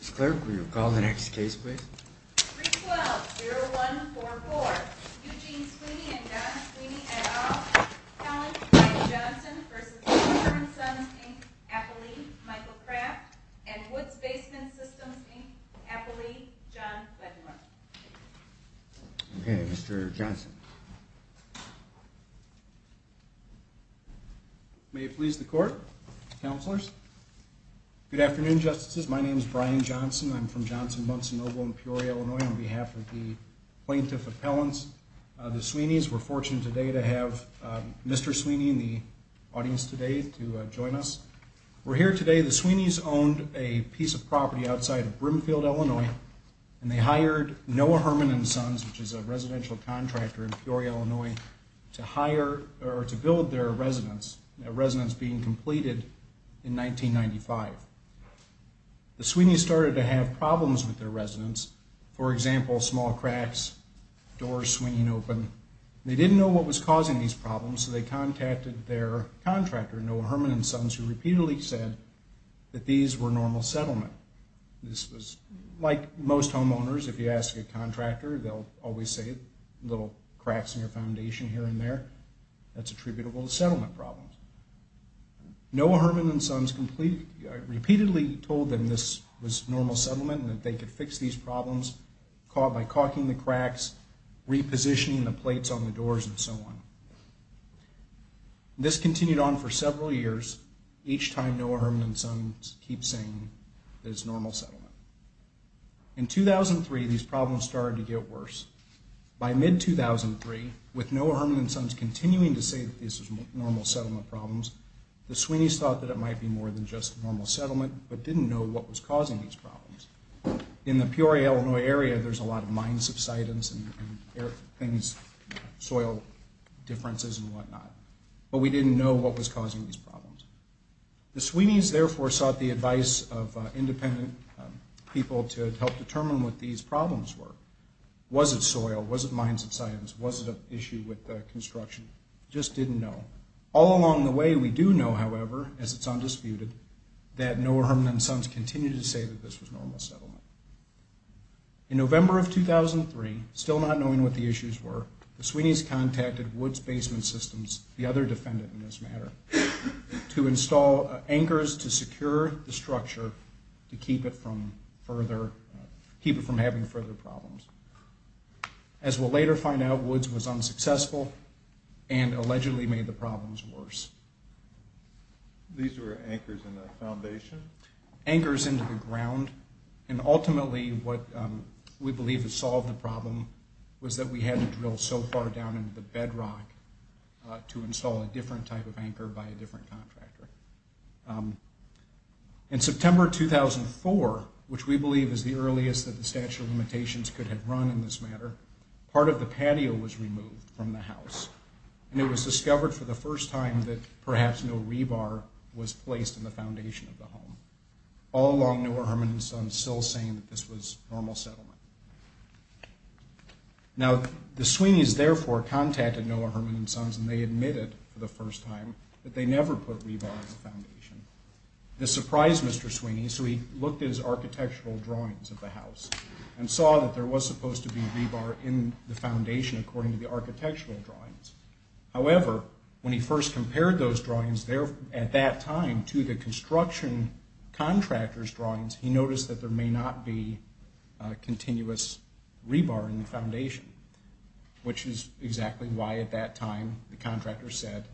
Mr. Clerk, will you call the next case please? 312-0144, Eugene Sweeney v. John Sweeney, et al., Allen v. Brian Johnson v. Noah Hermans Sons, Inc., Appley, Michael Kraft, and Woods Basement Systems, Inc., Appley, John Wedmore. Okay, Mr. Johnson. May it please the Court, Counselors? Good afternoon, Justices. My name is Brian Johnson. I'm from Johnson, Muncie, Noble, and Peoria, Illinois. On behalf of the Plaintiff Appellants, the Sweeneys, we're fortunate today to have Mr. Sweeney and the audience today to join us. We're here today, the Sweeneys owned a piece of property outside of Brimfield, Illinois, and they hired Noah Herman and Sons, which is a residential contractor in Peoria, Illinois, to hire or to build their residence, a residence being completed in 1995. The Sweeneys started to have problems with their residence. For example, small cracks, doors swinging open. They didn't know what was causing these problems, so they contacted their contractor, Noah Herman and Sons, who repeatedly said that these were normal settlement. This was, like most homeowners, if you ask a contractor, they'll always say little cracks in your foundation here and there. That's attributable to settlement problems. Noah Herman and Sons repeatedly told them this was normal settlement and that they could fix these problems by caulking the cracks, repositioning the plates on the doors, and so on. This continued on for several years, each time Noah Herman and Sons kept saying that it's normal settlement. In 2003, these problems started to get worse. By mid-2003, with Noah Herman and Sons continuing to say that this is normal settlement problems, the Sweeneys thought that it might be more than just normal settlement, but didn't know what was causing these problems. In the Peoria, Illinois area, there's a lot of mine subsidence and soil differences and whatnot, but we didn't know what was causing these problems. The Sweeneys, therefore, sought the advice of independent people to help determine what these problems were. Was it soil? Was it mine subsidence? Was it an issue with construction? Just didn't know. All along the way, we do know, however, as it's undisputed, that Noah Herman and Sons continued to say that this was normal settlement. In November of 2003, still not knowing what the issues were, the Sweeneys contacted Woods Basement Systems, the other defendant in this matter, to install anchors to secure the structure to keep it from having further problems. As we'll later find out, Woods was unsuccessful and allegedly made the problems worse. These were anchors in the foundation? Anchors into the ground, and ultimately what we believe has solved the problem was that we had to drill so far down into the bedrock to install a different type of anchor by a different contractor. In September 2004, which we believe is the earliest that the statute of limitations could have run in this matter, part of the patio was removed from the house, and it was discovered for the first time that perhaps no rebar was placed in the foundation of the home. All along, Noah Herman and Sons still saying that this was normal settlement. Now, the Sweeneys therefore contacted Noah Herman and Sons, and they admitted for the first time that they never put rebar in the foundation. This surprised Mr. Sweeney, so he looked at his architectural drawings of the house and saw that there was supposed to be rebar in the foundation according to the architectural drawings. However, when he first compared those drawings at that time to the construction contractor's drawings, he noticed that there may not be continuous rebar in the foundation, which is exactly why at that time the contractor said,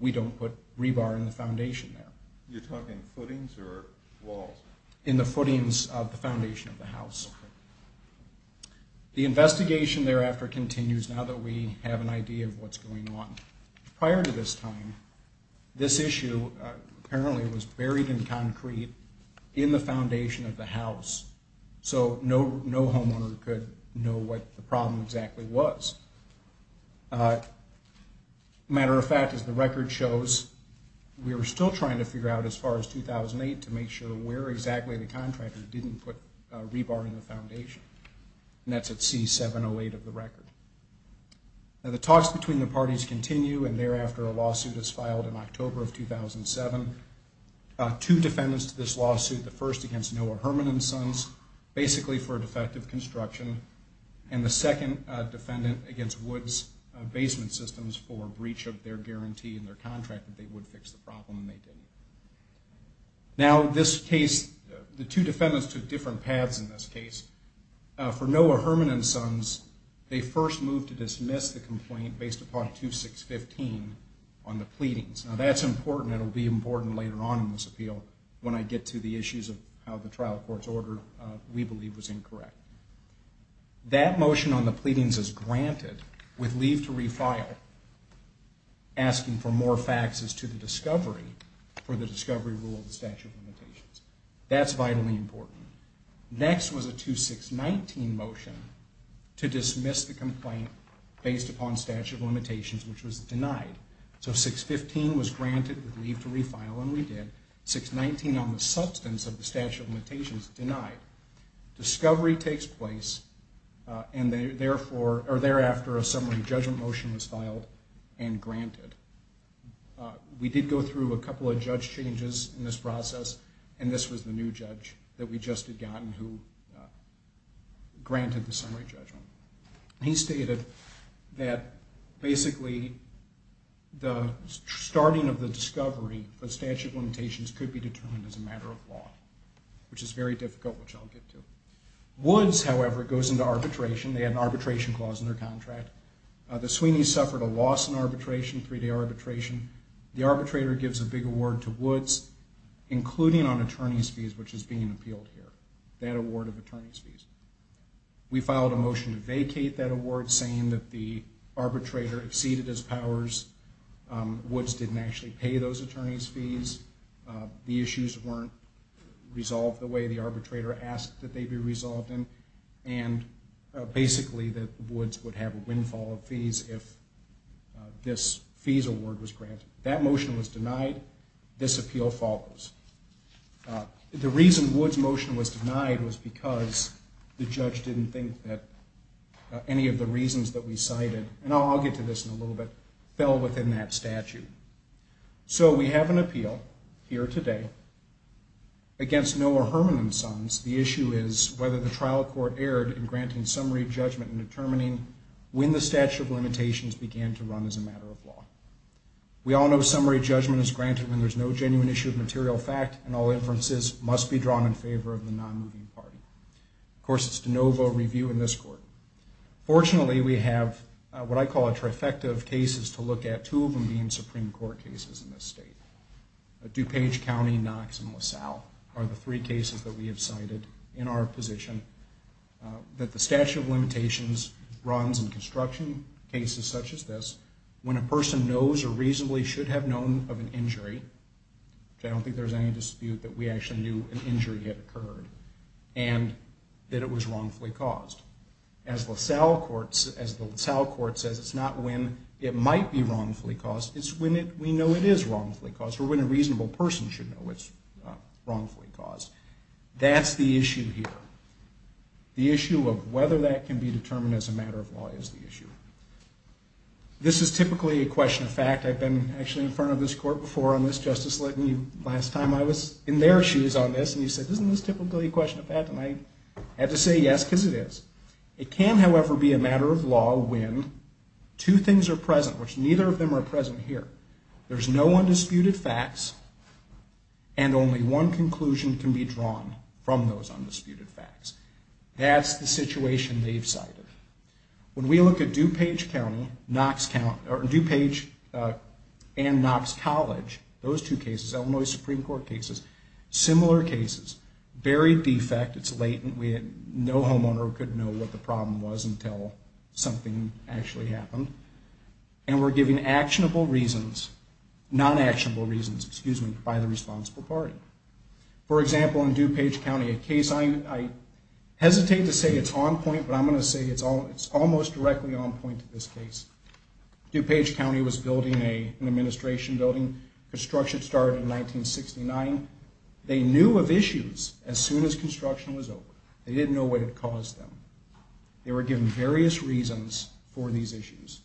we don't put rebar in the foundation there. You're talking footings or walls? In the footings of the foundation of the house. The investigation thereafter continues now that we have an idea of what's going on. Prior to this time, this issue apparently was buried in concrete in the foundation of the house, so no homeowner could know what the problem exactly was. Matter of fact, as the record shows, we were still trying to figure out as far as 2008 to make sure where exactly the contractor didn't put rebar in the foundation, and that's at C708 of the record. The talks between the parties continue, and thereafter a lawsuit is filed in October of 2007. Two defendants to this lawsuit, the first against Noah Herman and Sons, basically for defective construction, and the second defendant against Woods Basement Systems for breach of their guarantee in their contract that they would fix the problem and they didn't. Now, this case, the two defendants took different paths in this case. For Noah Herman and Sons, they first moved to dismiss the complaint based upon 2615 on the pleadings. Now, that's important, and it will be important later on in this appeal when I get to the issues of how the trial court's order, we believe, was incorrect. That motion on the pleadings is granted with leave to refile, asking for more faxes to the discovery for the discovery rule of the statute of limitations. That's vitally important. Next was a 2619 motion to dismiss the complaint based upon statute of limitations, which was denied. So 615 was granted with leave to refile, and we did. 619 on the substance of the statute of limitations, denied. Discovery takes place, and therefore, or thereafter, a summary judgment motion was filed and granted. We did go through a couple of judge changes in this process, and this was the new judge that we just had gotten who granted the summary judgment. He stated that basically the starting of the discovery for statute of limitations could be determined as a matter of law, which is very difficult, which I'll get to. Woods, however, goes into arbitration. They had an arbitration clause in their contract. The Sweeneys suffered a loss in arbitration, three-day arbitration. The arbitrator gives a big award to Woods, including on attorney's fees, which is being appealed here, that award of attorney's fees. We filed a motion to vacate that award, saying that the arbitrator exceeded his powers. Woods didn't actually pay those attorney's fees. The issues weren't resolved the way the arbitrator asked that they be resolved, and basically that Woods would have a windfall of fees if this fees award was granted. That motion was denied. This appeal follows. The reason Woods' motion was denied was because the judge didn't think that any of the reasons that we cited, and I'll get to this in a little bit, fell within that statute. So we have an appeal here today against Noah Herman and Sons. The issue is whether the trial court erred in granting summary judgment in determining when the statute of limitations began to run as a matter of law. We all know summary judgment is granted when there's no genuine issue of material fact, and all inferences must be drawn in favor of the non-moving party. Of course, it's de novo review in this court. Fortunately, we have what I call a trifecta of cases to look at, two of them being Supreme Court cases in this state. DuPage County, Knox, and LaSalle are the three cases that we have cited in our position, that the statute of limitations runs in construction cases such as this, when a person knows or reasonably should have known of an injury, which I don't think there's any dispute that we actually knew an injury had occurred, and that it was wrongfully caused. As the LaSalle court says, it's not when it might be wrongfully caused, it's when we know it is wrongfully caused, or when a reasonable person should know it's wrongfully caused. That's the issue here. The issue of whether that can be determined as a matter of law is the issue. This is typically a question of fact. I've been actually in front of this court before on this, Justice Linton, last time I was in their shoes on this, and you said, isn't this typically a question of fact? And I had to say yes, because it is. It can, however, be a matter of law when two things are present, which neither of them are present here. There's no undisputed facts, and only one conclusion can be drawn from those undisputed facts. That's the situation they've cited. When we look at DuPage County and Knox College, those two cases, Illinois Supreme Court cases, similar cases, buried defect, it's latent, no homeowner could know what the problem was until something actually happened, and were given actionable reasons, non-actionable reasons, by the responsible party. For example, in DuPage County, a case I hesitate to say it's on point, but I'm going to say it's almost directly on point to this case. DuPage County was building an administration building. Construction started in 1969. They knew of issues as soon as construction was over. They didn't know what it caused them. They were given various reasons for these issues,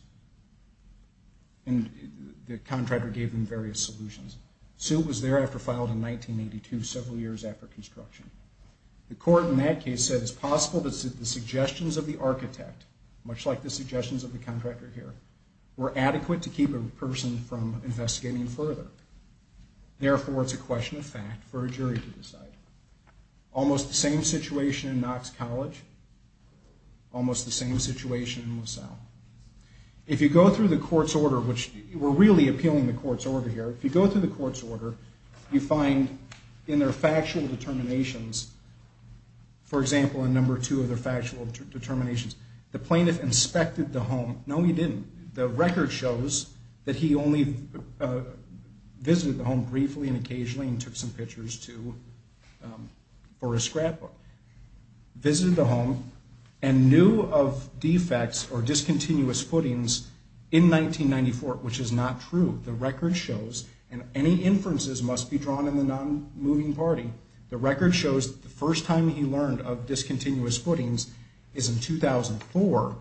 and the contractor gave them various solutions. The suit was thereafter filed in 1982, several years after construction. The court in that case said it's possible that the suggestions of the architect, much like the suggestions of the contractor here, were adequate to keep a person from investigating further. Almost the same situation in Knox College. Almost the same situation in LaSalle. If you go through the court's order, which we're really appealing the court's order here, if you go through the court's order, you find in their factual determinations, for example, in number two of their factual determinations, the plaintiff inspected the home. No, he didn't. The record shows that he only visited the home briefly and occasionally and took some pictures for his scrapbook. Visited the home and knew of defects or discontinuous footings in 1994, which is not true. The record shows, and any inferences must be drawn in the non-moving party, the record shows the first time he learned of discontinuous footings is in 2004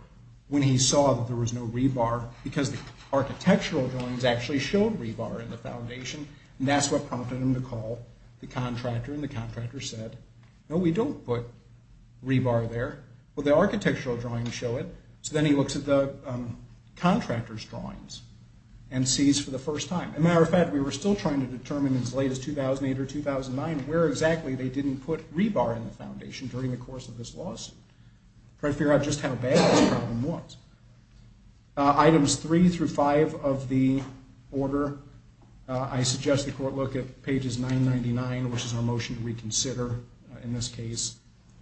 when he saw that there was no rebar because the architectural drawings actually showed rebar in the foundation, and that's what prompted him to call the contractor, and the contractor said, no, we don't put rebar there. Well, the architectural drawings show it, so then he looks at the contractor's drawings and sees for the first time. Matter of fact, we were still trying to determine as late as 2008 or 2009 where exactly they didn't put rebar in the foundation during the course of this lawsuit, trying to figure out just how bad this problem was. Items 3 through 5 of the order, I suggest the court look at pages 999, which is our motion to reconsider in this case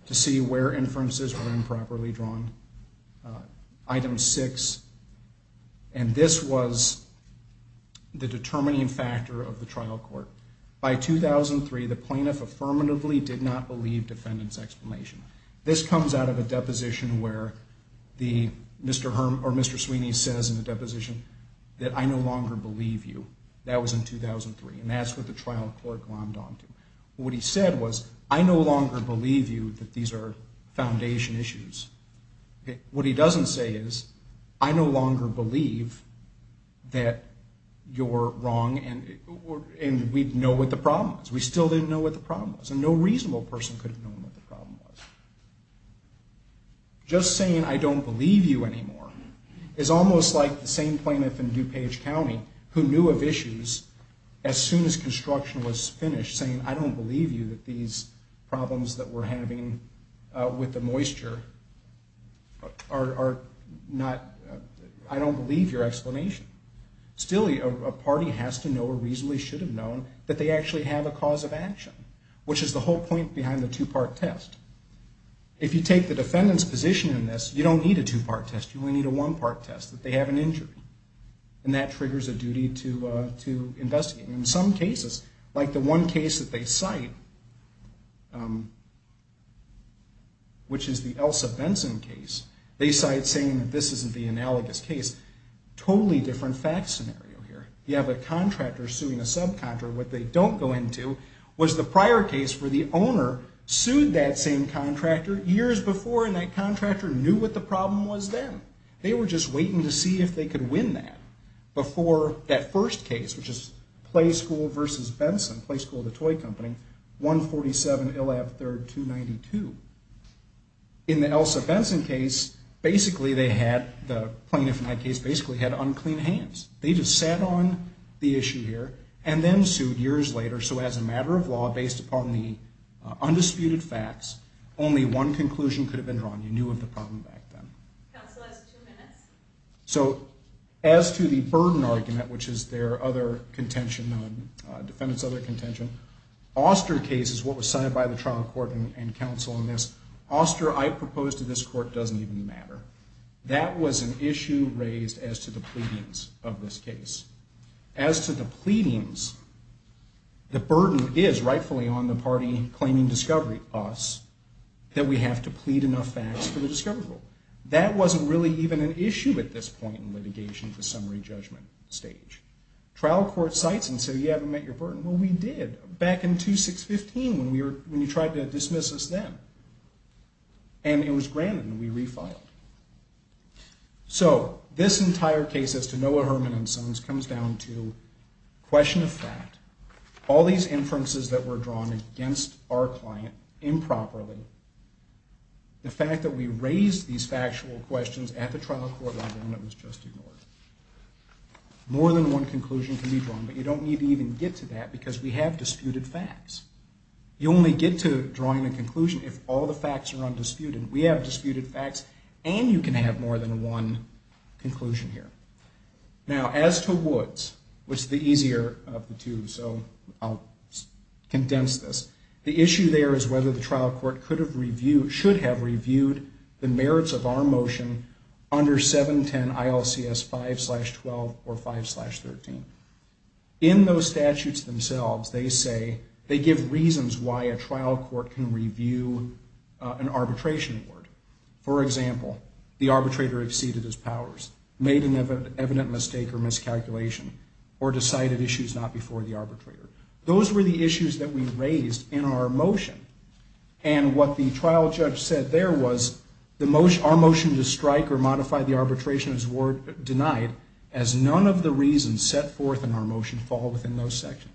to see where inferences were improperly drawn. Item 6, and this was the determining factor of the trial court. By 2003, the plaintiff affirmatively did not believe defendant's explanation. This comes out of a deposition where Mr. Sweeney says in the deposition that I no longer believe you. That was in 2003, and that's what the trial court glommed onto. What he said was, I no longer believe you that these are foundation issues. What he doesn't say is, I no longer believe that you're wrong and we know what the problem is. We still didn't know what the problem was, and no reasonable person could have known what the problem was. Just saying I don't believe you anymore is almost like the same plaintiff in DuPage County who knew of issues as soon as construction was finished saying, I don't believe you that these problems that we're having with the moisture are not, I don't believe your explanation. Still, a party has to know or reasonably should have known that they actually have a cause of action, which is the whole point behind the two-part test. If you take the defendant's position in this, you don't need a two-part test. You only need a one-part test that they have an injury, and that triggers a duty to investigate. In some cases, like the one case that they cite, which is the Elsa Benson case, they cite saying that this isn't the analogous case. Totally different fact scenario here. You have a contractor suing a subcontractor. What they don't go into was the prior case where the owner sued that same contractor years before, and that contractor knew what the problem was then. They were just waiting to see if they could win that before that first case, which is Playschool v. Benson, Playschool the toy company, 147 Illab 3rd 292. In the Elsa Benson case, basically they had, the plaintiff in that case basically had unclean hands. They just sat on the issue here and then sued years later. So as a matter of law, based upon the undisputed facts, only one conclusion could have been drawn. You knew of the problem back then. Counsel has two minutes. As to the burden argument, which is their other contention, defendant's other contention, Auster case is what was cited by the trial court and counsel in this. Auster, I propose to this court, doesn't even matter. That was an issue raised as to the pleadings of this case. As to the pleadings, the burden is, rightfully, on the party claiming discovery, us, that we have to plead enough facts for the discovery rule. That wasn't really even an issue at this point in litigation at the summary judgment stage. Trial court cites and says, you haven't met your burden. Well, we did back in 2615 when you tried to dismiss us then. And it was granted, and we refiled. So this entire case as to Noah, Herman, and Sons comes down to question of fact. All these inferences that were drawn against our client improperly, the fact that we raised these factual questions at the trial court on the ground that was just ignored. More than one conclusion can be drawn, but you don't need to even get to that because we have disputed facts. You only get to drawing a conclusion if all the facts are undisputed. We have disputed facts, and you can have more than one conclusion here. Now, as to Woods, which is the easier of the two, so I'll condense this. The issue there is whether the trial court should have reviewed the merits of our motion under 710 ILCS 5-12 or 5-13. In those statutes themselves, they say they give reasons why a trial court can review an arbitration award. For example, the arbitrator exceeded his powers, made an evident mistake or miscalculation, or decided issues not before the arbitrator. Those were the issues that we raised in our motion. And what the trial judge said there was our motion to strike or modify the arbitration is denied as none of the reasons set forth in our motion fall within those sections.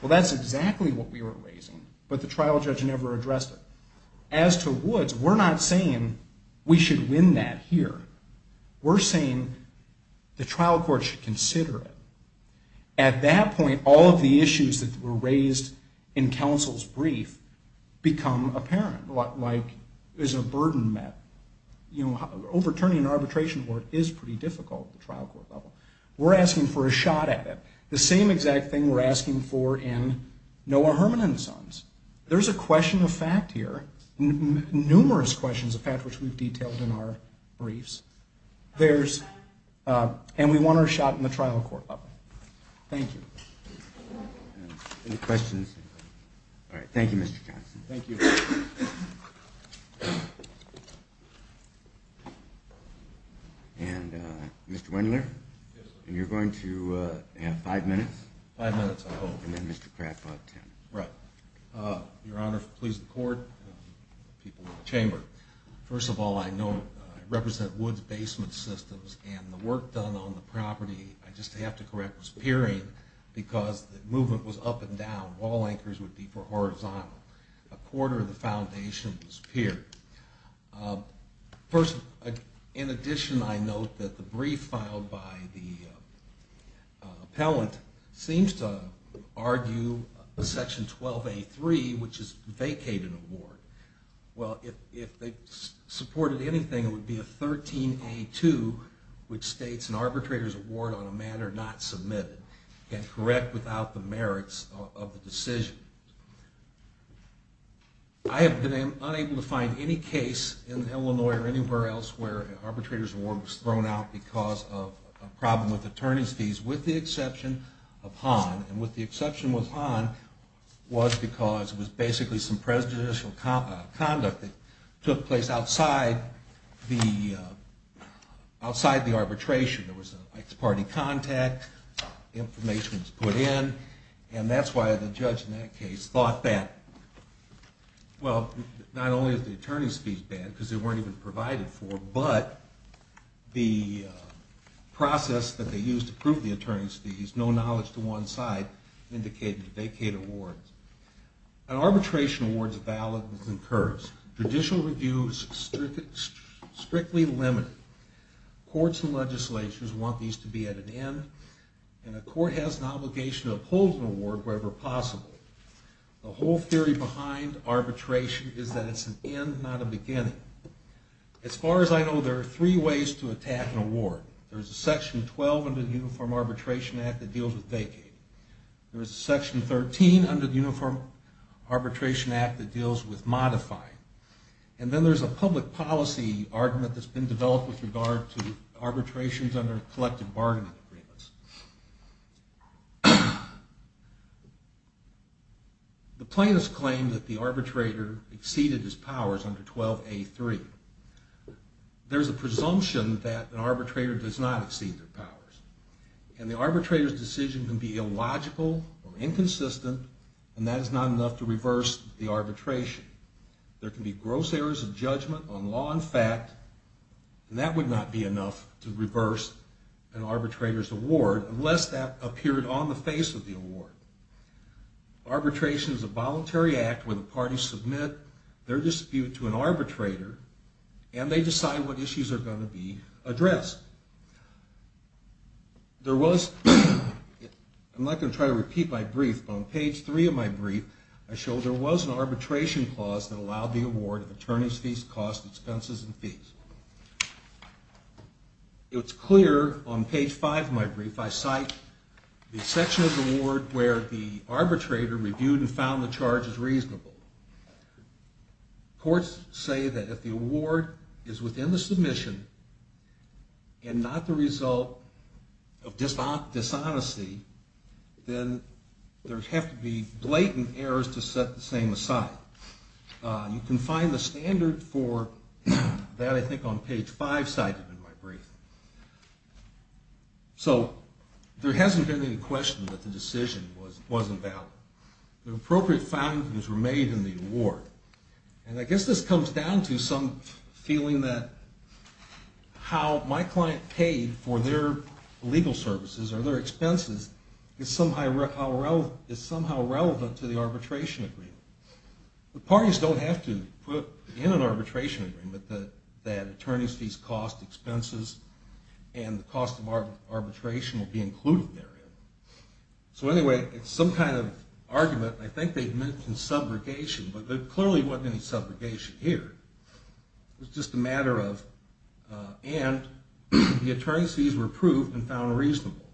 Well, that's exactly what we were raising, but the trial judge never addressed it. As to Woods, we're not saying we should win that here. We're saying the trial court should consider it. At that point, all of the issues that were raised in counsel's brief become apparent, like is a burden met? Overturning an arbitration award is pretty difficult at the trial court level. We're asking for a shot at it. The same exact thing we're asking for in Noah Herman and Sons. There's a question of fact here, numerous questions of fact, which we've detailed in our briefs. And we want our shot in the trial court level. Thank you. Any questions? All right, thank you, Mr. Johnson. Thank you. And, Mr. Wendler? Yes, sir. You're going to have five minutes. Five minutes, I hope. And then Mr. Kraft will have ten. Right. Your Honor, please record people in the chamber. First of all, I know I represent Woods Basement Systems, and the work done on the property, I just have to correct, was peering because the movement was up and down. Wall anchors would be for horizontal. A quarter of the foundation was peered. First, in addition, I note that the brief filed by the appellant seems to argue Section 12A.3, which is vacate an award. Well, if they supported anything, it would be a 13A.2, which states an arbitrator's award on a matter not submitted can't correct without the merits of the decision. I have been unable to find any case in Illinois or anywhere else where an arbitrator's award was thrown out because of a problem with attorney's fees, with the exception of Hahn. And with the exception of Hahn was because it was basically some prejudicial conduct that took place outside the arbitration. There was an ex-party contact, information was put in, and that's why the judge in that case thought that, well, not only is the attorney's fees bad, because they weren't even provided for, but the process that they used to prove the attorney's fees, no knowledge to one side, indicated a vacate award. An arbitration award is valid and occurs. Judicial reviews are strictly limited. Courts and legislatures want these to be at an end, and a court has an obligation to uphold an award wherever possible. The whole theory behind arbitration is that it's an end, not a beginning. As far as I know, there are three ways to attack an award. There's a Section 12 under the Uniform Arbitration Act that deals with vacating. There's a Section 13 under the Uniform Arbitration Act that deals with modifying. And then there's a public policy argument that's been developed with regard to arbitrations under collective bargaining agreements. The plaintiffs claim that the arbitrator exceeded his powers under 12A3. There's a presumption that an arbitrator does not exceed their powers, and the arbitrator's decision can be illogical or inconsistent, and that is not enough to reverse the arbitration. There can be gross errors of judgment on law and fact, and that would not be enough to reverse an arbitrator's award unless that appeared on the face of the award. Arbitration is a voluntary act where the parties submit their dispute to an arbitrator, and they decide what issues are going to be addressed. I'm not going to try to repeat my brief, but on page three of my brief, I show there was an arbitration clause that allowed the award of attorneys fees, costs, expenses, and fees. It's clear on page five of my brief I cite the section of the award where the arbitrator reviewed and found the charges reasonable. Courts say that if the award is within the submission and not the result of dishonesty, then there have to be blatant errors to set the same aside. You can find the standard for that, I think, on page five cited in my brief. So there hasn't been any question that the decision wasn't valid. The appropriate findings were made in the award, and I guess this comes down to some feeling that how my client paid for their legal services or their expenses is somehow relevant to the arbitration agreement. The parties don't have to put in an arbitration agreement that attorneys fees, costs, expenses, and the cost of arbitration will be included therein. So anyway, it's some kind of argument, and I think they've mentioned subrogation, but there clearly wasn't any subrogation here. It was just a matter of, and the attorneys fees were approved and found reasonable.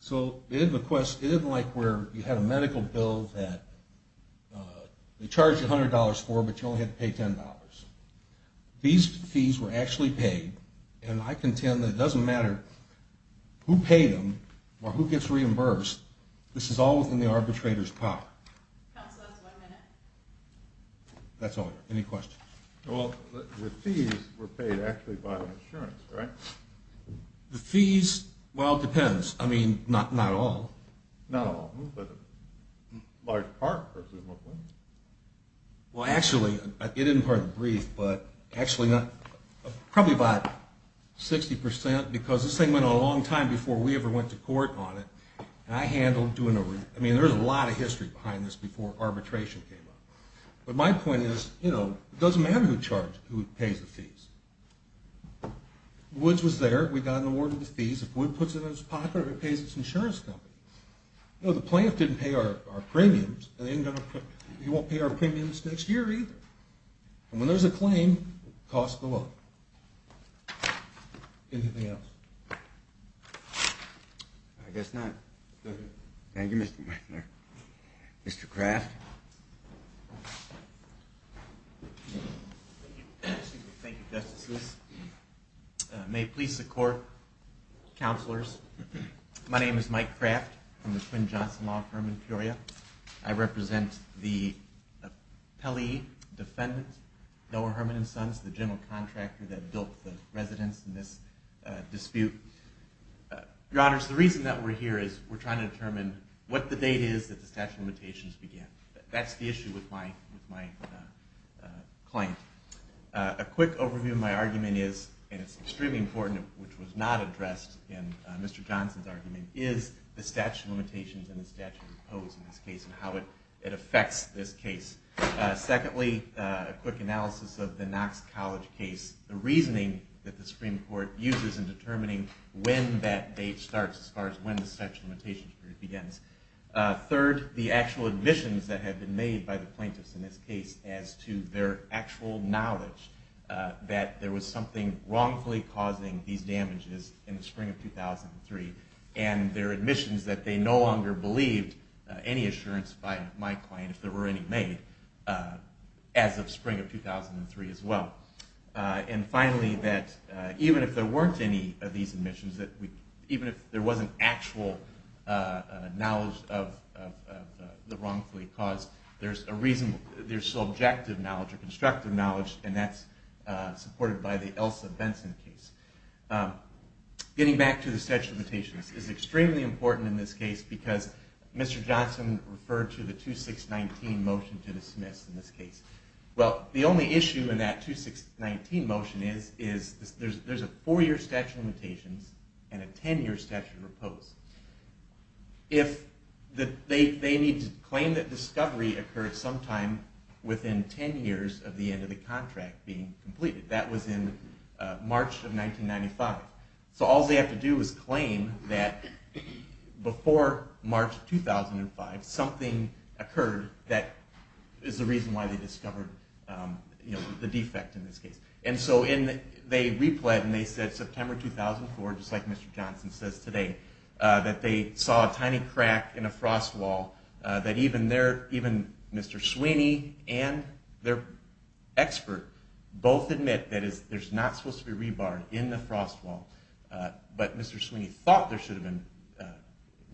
So it isn't like where you had a medical bill that they charged you $100 for, but you only had to pay $10. These fees were actually paid, and I contend that it doesn't matter who paid them or who gets reimbursed. This is all within the arbitrator's power. Counsel, that's one minute. That's all, any questions? Well, the fees were paid actually by the insurance, right? The fees, well, it depends. I mean, not all. Not all, but a large part, presumably. Well, actually, it isn't part of the brief, but actually probably about 60%, because this thing went on a long time before we ever went to court on it, and I handled doing a, I mean, there's a lot of history behind this before arbitration came up. But my point is, you know, it doesn't matter who pays the fees. Woods was there. We got an award for the fees. If Woods puts it in his pocket, it pays his insurance company. You know, the plaintiff didn't pay our premiums, and he won't pay our premiums next year either. And when there's a claim, costs go up. Anything else? I guess not. Thank you, Mr. Weissner. Mr. Kraft? Thank you. Thank you, Justices. May it please the Court, counselors, my name is Mike Kraft. I'm the Quinn Johnson Law Firm in Peoria. I represent the appellee, defendant, Noah Herman and Sons, the general contractor that built the residence in this dispute. Your Honors, the reason that we're here is we're trying to determine what the date is that the statute of limitations began. That's the issue with my client. A quick overview of my argument is, and it's extremely important, which was not addressed in Mr. Johnson's argument, is the statute of limitations and the statute of codes in this case and how it affects this case. Secondly, a quick analysis of the Knox College case, the reasoning that the Supreme Court uses in determining when that date starts as far as when the statute of limitations begins. Third, the actual admissions that have been made by the plaintiffs in this case as to their actual knowledge that there was something wrongfully causing these damages in the spring of 2003 and their admissions that they no longer believed any assurance by my client, if there were any made, as of spring of 2003 as well. And finally, that even if there weren't any of these admissions, that even if there wasn't actual knowledge of the wrongfully caused, there's a reason, there's subjective knowledge or constructive knowledge, and that's supported by the Elsa Benson case. Getting back to the statute of limitations, it's extremely important in this case because Mr. Johnson referred to the 2619 motion to dismiss in this case. Well, the only issue in that 2619 motion is there's a four-year statute of limitations and a ten-year statute of repose. They need to claim that discovery occurred sometime within ten years of the end of the contract being completed. That was in March of 1995. So all they have to do is claim that before March 2005, something occurred that is the reason why they discovered the defect in this case. And so they repled, and they said September 2004, just like Mr. Johnson says today, that they saw a tiny crack in a frost wall that even Mr. Sweeney and their expert both admit that there's not supposed to be rebar in the frost wall, but Mr. Sweeney thought there should have been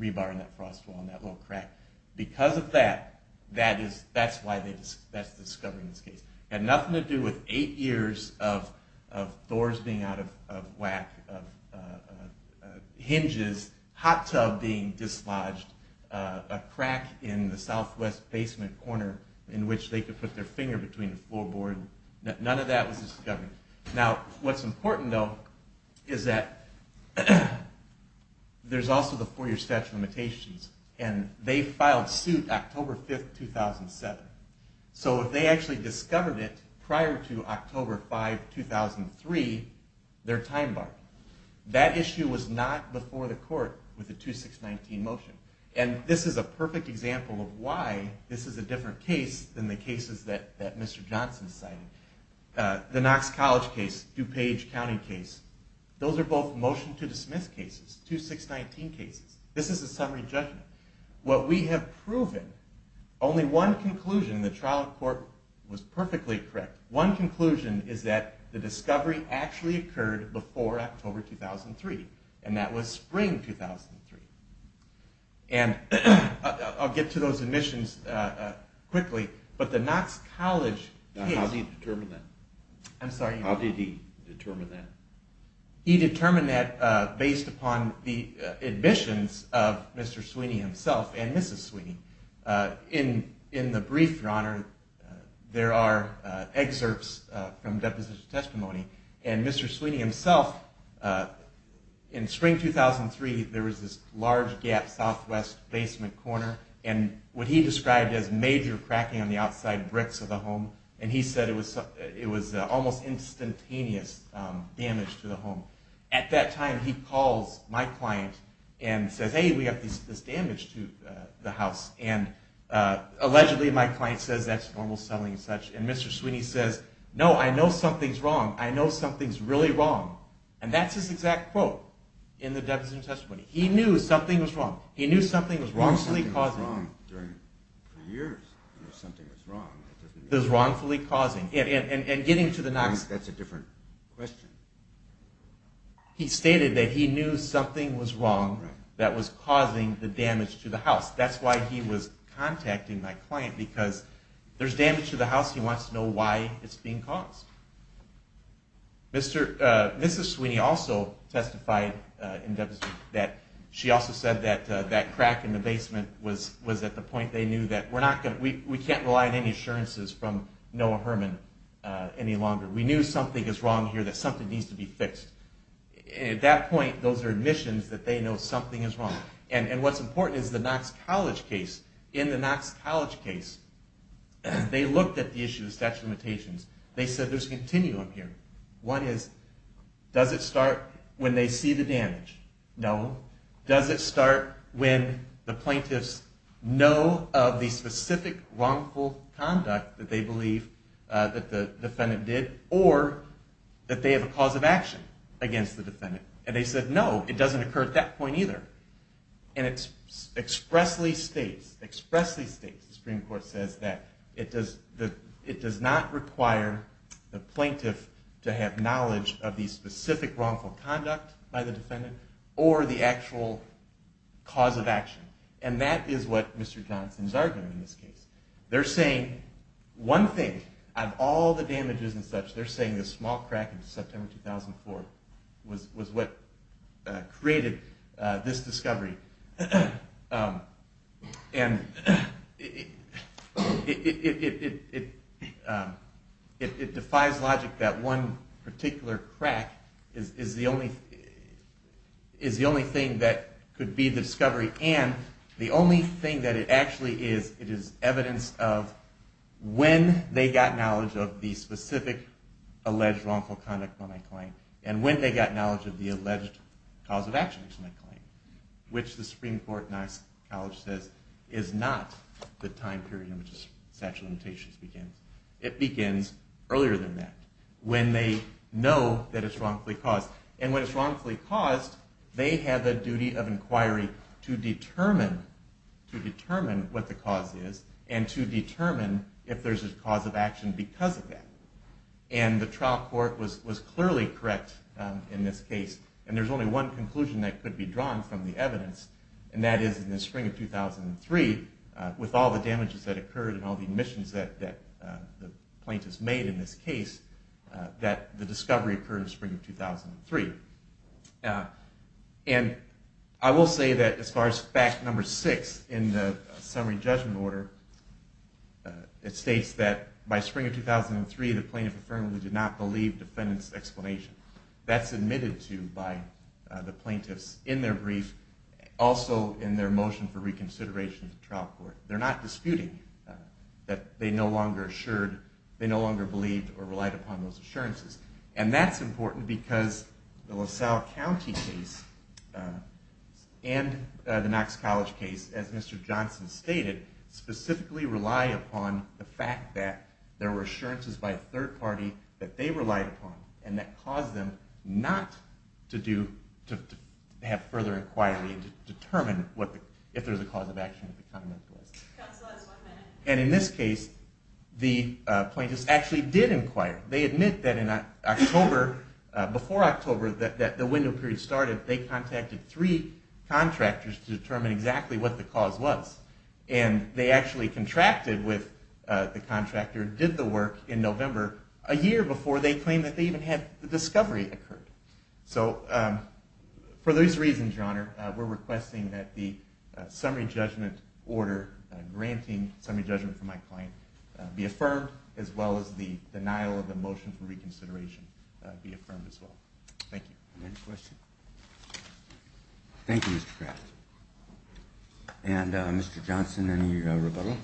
rebar in that frost wall, in that little crack. Because of that, that's why they discovered this case. It had nothing to do with eight years of doors being out of whack, of hinges, hot tub being dislodged, a crack in the southwest basement corner in which they could put their finger between a floorboard. None of that was discovered. Now, what's important, though, is that there's also the four-year statute of limitations. And they filed suit October 5, 2007. So if they actually discovered it prior to October 5, 2003, their time bar. That issue was not before the court with the 2619 motion. And this is a perfect example of why this is a different case than the cases that Mr. Johnson cited. The Knox College case, DuPage County case, those are both motion-to-dismiss cases, 2619 cases. This is a summary judgment. What we have proven, only one conclusion, and the trial court was perfectly correct, one conclusion is that the discovery actually occurred before October 2003, and that was spring 2003. And I'll get to those admissions quickly, but the Knox College case... Now, how did he determine that? I'm sorry? How did he determine that? He determined that based upon the admissions of Mr. Sweeney himself and Mrs. Sweeney. In the brief, Your Honor, there are excerpts from deposition testimony. And Mr. Sweeney himself, in spring 2003, there was this large gap southwest basement corner, and what he described as major cracking on the outside bricks of the home, and he said it was almost instantaneous damage to the home. At that time, he calls my client and says, hey, we have this damage to the house, and allegedly my client says that's normal selling and such, and Mr. Sweeney says, no, I know something's wrong. I know something's really wrong. And that's his exact quote in the deposition testimony. He knew something was wrong. Something was wrong for years. Something was wrong. That's a different question. He stated that he knew something was wrong that was causing the damage to the house. That's why he was contacting my client, because there's damage to the house. He wants to know why it's being caused. Mrs. Sweeney also testified in deposition that she also said that that crack in the basement was at the point they knew that we can't rely on any assurances from Noah Herman any longer. We knew something is wrong here, that something needs to be fixed. At that point, those are admissions that they know something is wrong. And what's important is the Knox College case. In the Knox College case, they looked at the issue of the statute of limitations. They said there's a continuum here. One is, does it start when they see the damage? No. Does it start when the plaintiffs know of the specific wrongful conduct that they believe that the defendant did, or that they have a cause of action against the defendant? And they said, no, it doesn't occur at that point either. And it expressly states, expressly states, the Supreme Court says that it does not require the plaintiff to have knowledge of the specific wrongful conduct by the defendant or the actual cause of action. And that is what Mr. Johnson is arguing in this case. They're saying one thing, of all the damages and such, they're saying the small crack in September 2004 was what created this damage. This discovery. And it defies logic that one particular crack is the only thing that could be the discovery and the only thing that it actually is, it is evidence of when they got knowledge of the specific alleged wrongful conduct by my client and when they got knowledge of the alleged cause of action, which the Supreme Court in Isaac College says is not the time period in which the statute of limitations begins. It begins earlier than that, when they know that it's wrongfully caused. And when it's wrongfully caused, they have the duty of inquiry to determine what the cause is and to determine if there's a cause of action because of that. And the trial court was clearly correct in this case and there's only one conclusion that could be drawn from the evidence and that is in the spring of 2003 with all the damages that occurred and all the admissions that the plaintiffs made in this case, that the discovery occurred in the spring of 2003. And I will say that as far as fact number six in the summary judgment order, it states that by spring of 2003 the plaintiff affirmably did not believe defendant's explanation. That's admitted to by the plaintiffs in their brief, also in their motion for reconsideration to trial court. They're not disputing that they no longer assured, they no longer believed or relied upon those assurances. And that's important because the LaSalle County case and the Knox College case, as Mr. Johnson stated, specifically relied upon the fact that there were assurances by a third party that they relied upon and that caused them not to have further inquiry to determine if there's a cause of action. And in this case, the plaintiffs actually did inquire. They admit that before October that the window period started, they contacted three contractors to determine exactly what the cause was. And they actually contracted with the contractor and did the work in November, a year before they claimed that they even had the discovery occurred. So for those reasons, Your Honor, we're requesting that the summary judgment order granting summary judgment from my client be affirmed as well as the denial of the motion for reconsideration be affirmed as well. Thank you. Any questions? Thank you, Mr. Kraft. And Mr. Johnson, any rebuttal?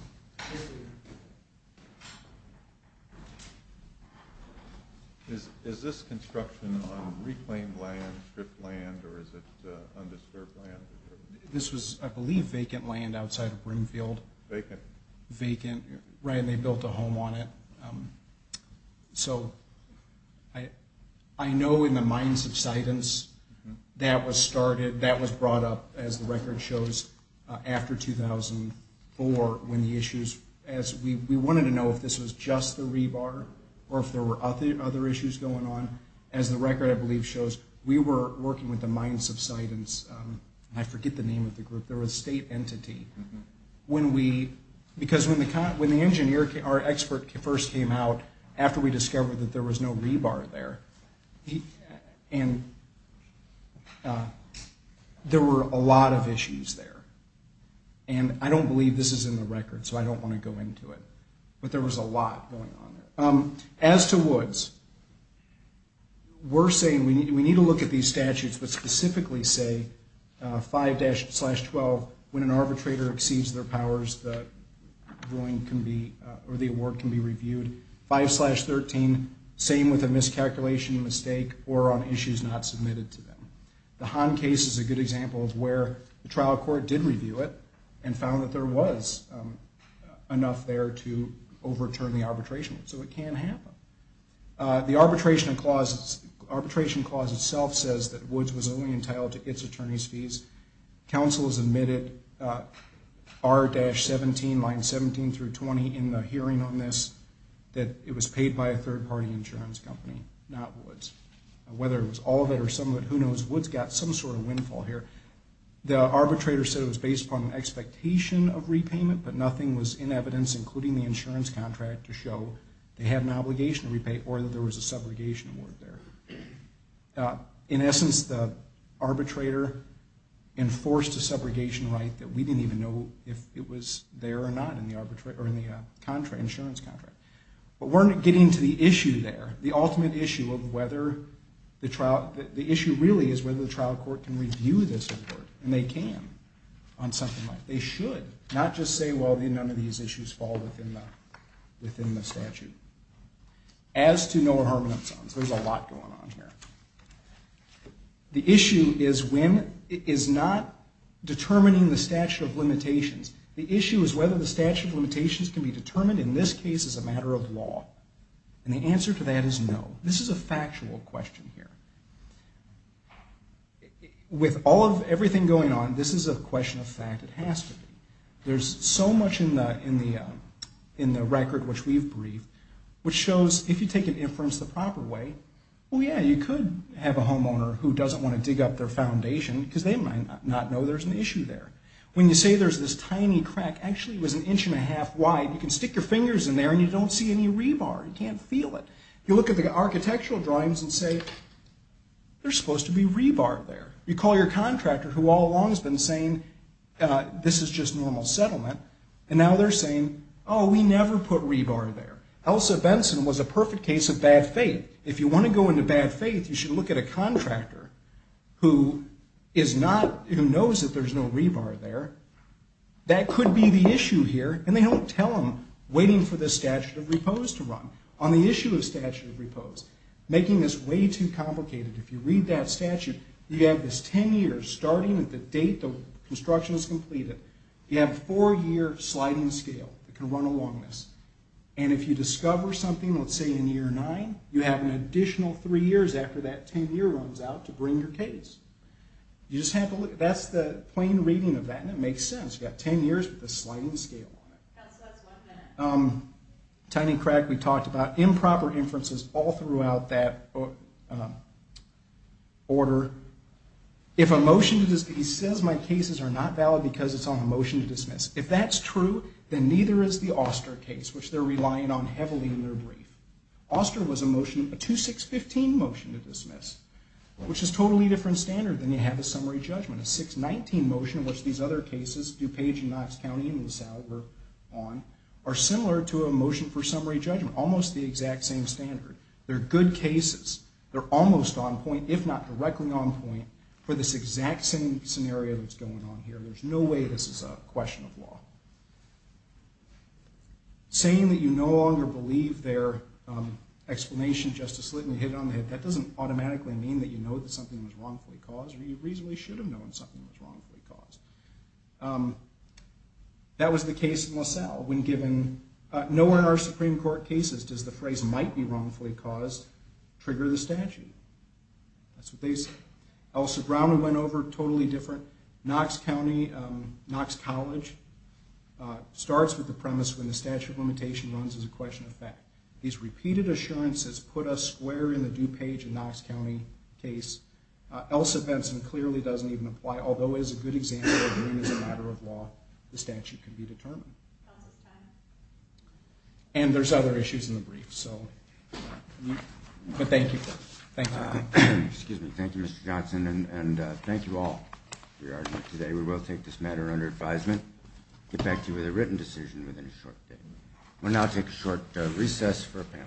Is this construction on reclaimed land, stripped land, or is it undisturbed land? This was, I believe, vacant land outside of Broomfield. Vacant. Right, and they built a home on it. So, I know in the minds of citants that was started, that was brought up, as the record shows, after 2004 when the issues as we wanted to know if this was just the rebar or if there were other issues going on. As the record, I believe, shows, we were working with the minds of citants. I forget the name of the group. They were a state entity. When we, because when the engineer, our expert first came out after we discovered that there was no rebar there, and there were a lot of issues there. And I don't believe this is in the record, so I don't want to go into it. But there was a lot going on there. As to Woods, we're saying we need to look at these statutes, but specifically say 5-12, when an arbitrator exceeds their powers, the ruling can be, or the award can be reviewed. 5-13, same with a miscalculation, mistake, or on issues not submitted to them. The Hahn case is a good example of where the trial court did review it and found that there was enough there to overturn the arbitration. So it can happen. The arbitration clause itself says that Woods was only entitled to its attorney's fees. Counsel has admitted R-17, lines 17 through 20, in the hearing on this, that it was paid by a third-party insurance company, not Woods. Whether it was all of it or some of it, who knows? Woods got some sort of windfall here. The arbitrator said it was based upon an expectation of repayment, but nothing was in evidence, including the insurance contract, to show they had an obligation to repay, or that there was a subrogation award there. In essence, the arbitrator enforced a subrogation right that we didn't even know if it was there or not in the insurance contract. But we're getting to the issue there, the ultimate issue of whether the trial, the issue really is whether the trial court can review this award, and they can on something like this. They should. Not just say, well, none of these issues fall within the permanent zones. There's a lot going on here. The issue is not determining the statute of limitations. The issue is whether the statute of limitations can be determined in this case as a matter of law. And the answer to that is no. This is a factual question here. With all of everything going on, this is a question of fact. It has to be. There's so much in the record which we've Well, yeah, you could have a homeowner who doesn't want to dig up their foundation, because they might not know there's an issue there. When you say there's this tiny crack, actually it was an inch and a half wide, you can stick your fingers in there and you don't see any rebar. You can't feel it. You look at the architectural drawings and say, there's supposed to be rebar there. You call your contractor, who all along has been saying this is just normal settlement, and now they're saying, oh, we never put rebar there. Elsa Benson was a perfect case of bad faith. If you want to go into bad faith, you should look at a contractor who knows that there's no rebar there. That could be the issue here, and they don't tell them, waiting for the statute of repose to run. On the issue of statute of repose, making this way too complicated. If you read that statute, you have this ten years, starting at the date the construction is completed. You have a four-year sliding scale that can run along this, and if you discover something, let's say in year nine, you have an additional three years after that ten year runs out to bring your case. That's the plain reading of that, and it makes sense. You've got ten years with a sliding scale on it. Tiny crack we talked about. Improper inferences all throughout that order. because it's on a motion to dismiss. If that's true, then neither is the Oster case, which they're relying on heavily in their brief. Oster was a motion, a 2-6-15 motion to dismiss, which is a totally different standard than you have a summary judgment. A 6-19 motion, which these other cases, DuPage and Knox County and Sal were on, are similar to a motion for summary judgment. Almost the exact same standard. They're good cases. They're almost on point, if not directly on point, for this exact same scenario that's going on here. There's no way this is a question of law. Saying that you no longer believe their explanation Justice Slitton hit on the head, that doesn't automatically mean that you know that something was wrongfully caused, or you reasonably should have known something was wrongfully caused. That was the case in LaSalle, when given no one of our Supreme Court cases does the phrase might be wrongfully caused trigger the statute. That's what they say. Elsa Browning went over, totally different. Knox College starts with the premise when the statute of limitation runs as a question of fact. These repeated assurances put us square in the DuPage and Knox County case. Elsa Benson clearly doesn't even apply, although is a good example of when, as a matter of law, the statute can be determined. And there's other issues in the brief. Thank you. Thank you, Mr. Johnson, and thank you all for your argument today. We will take this matter under advisement and get back to you with a written decision within a short day. We'll now take a short recess for a panel discussion.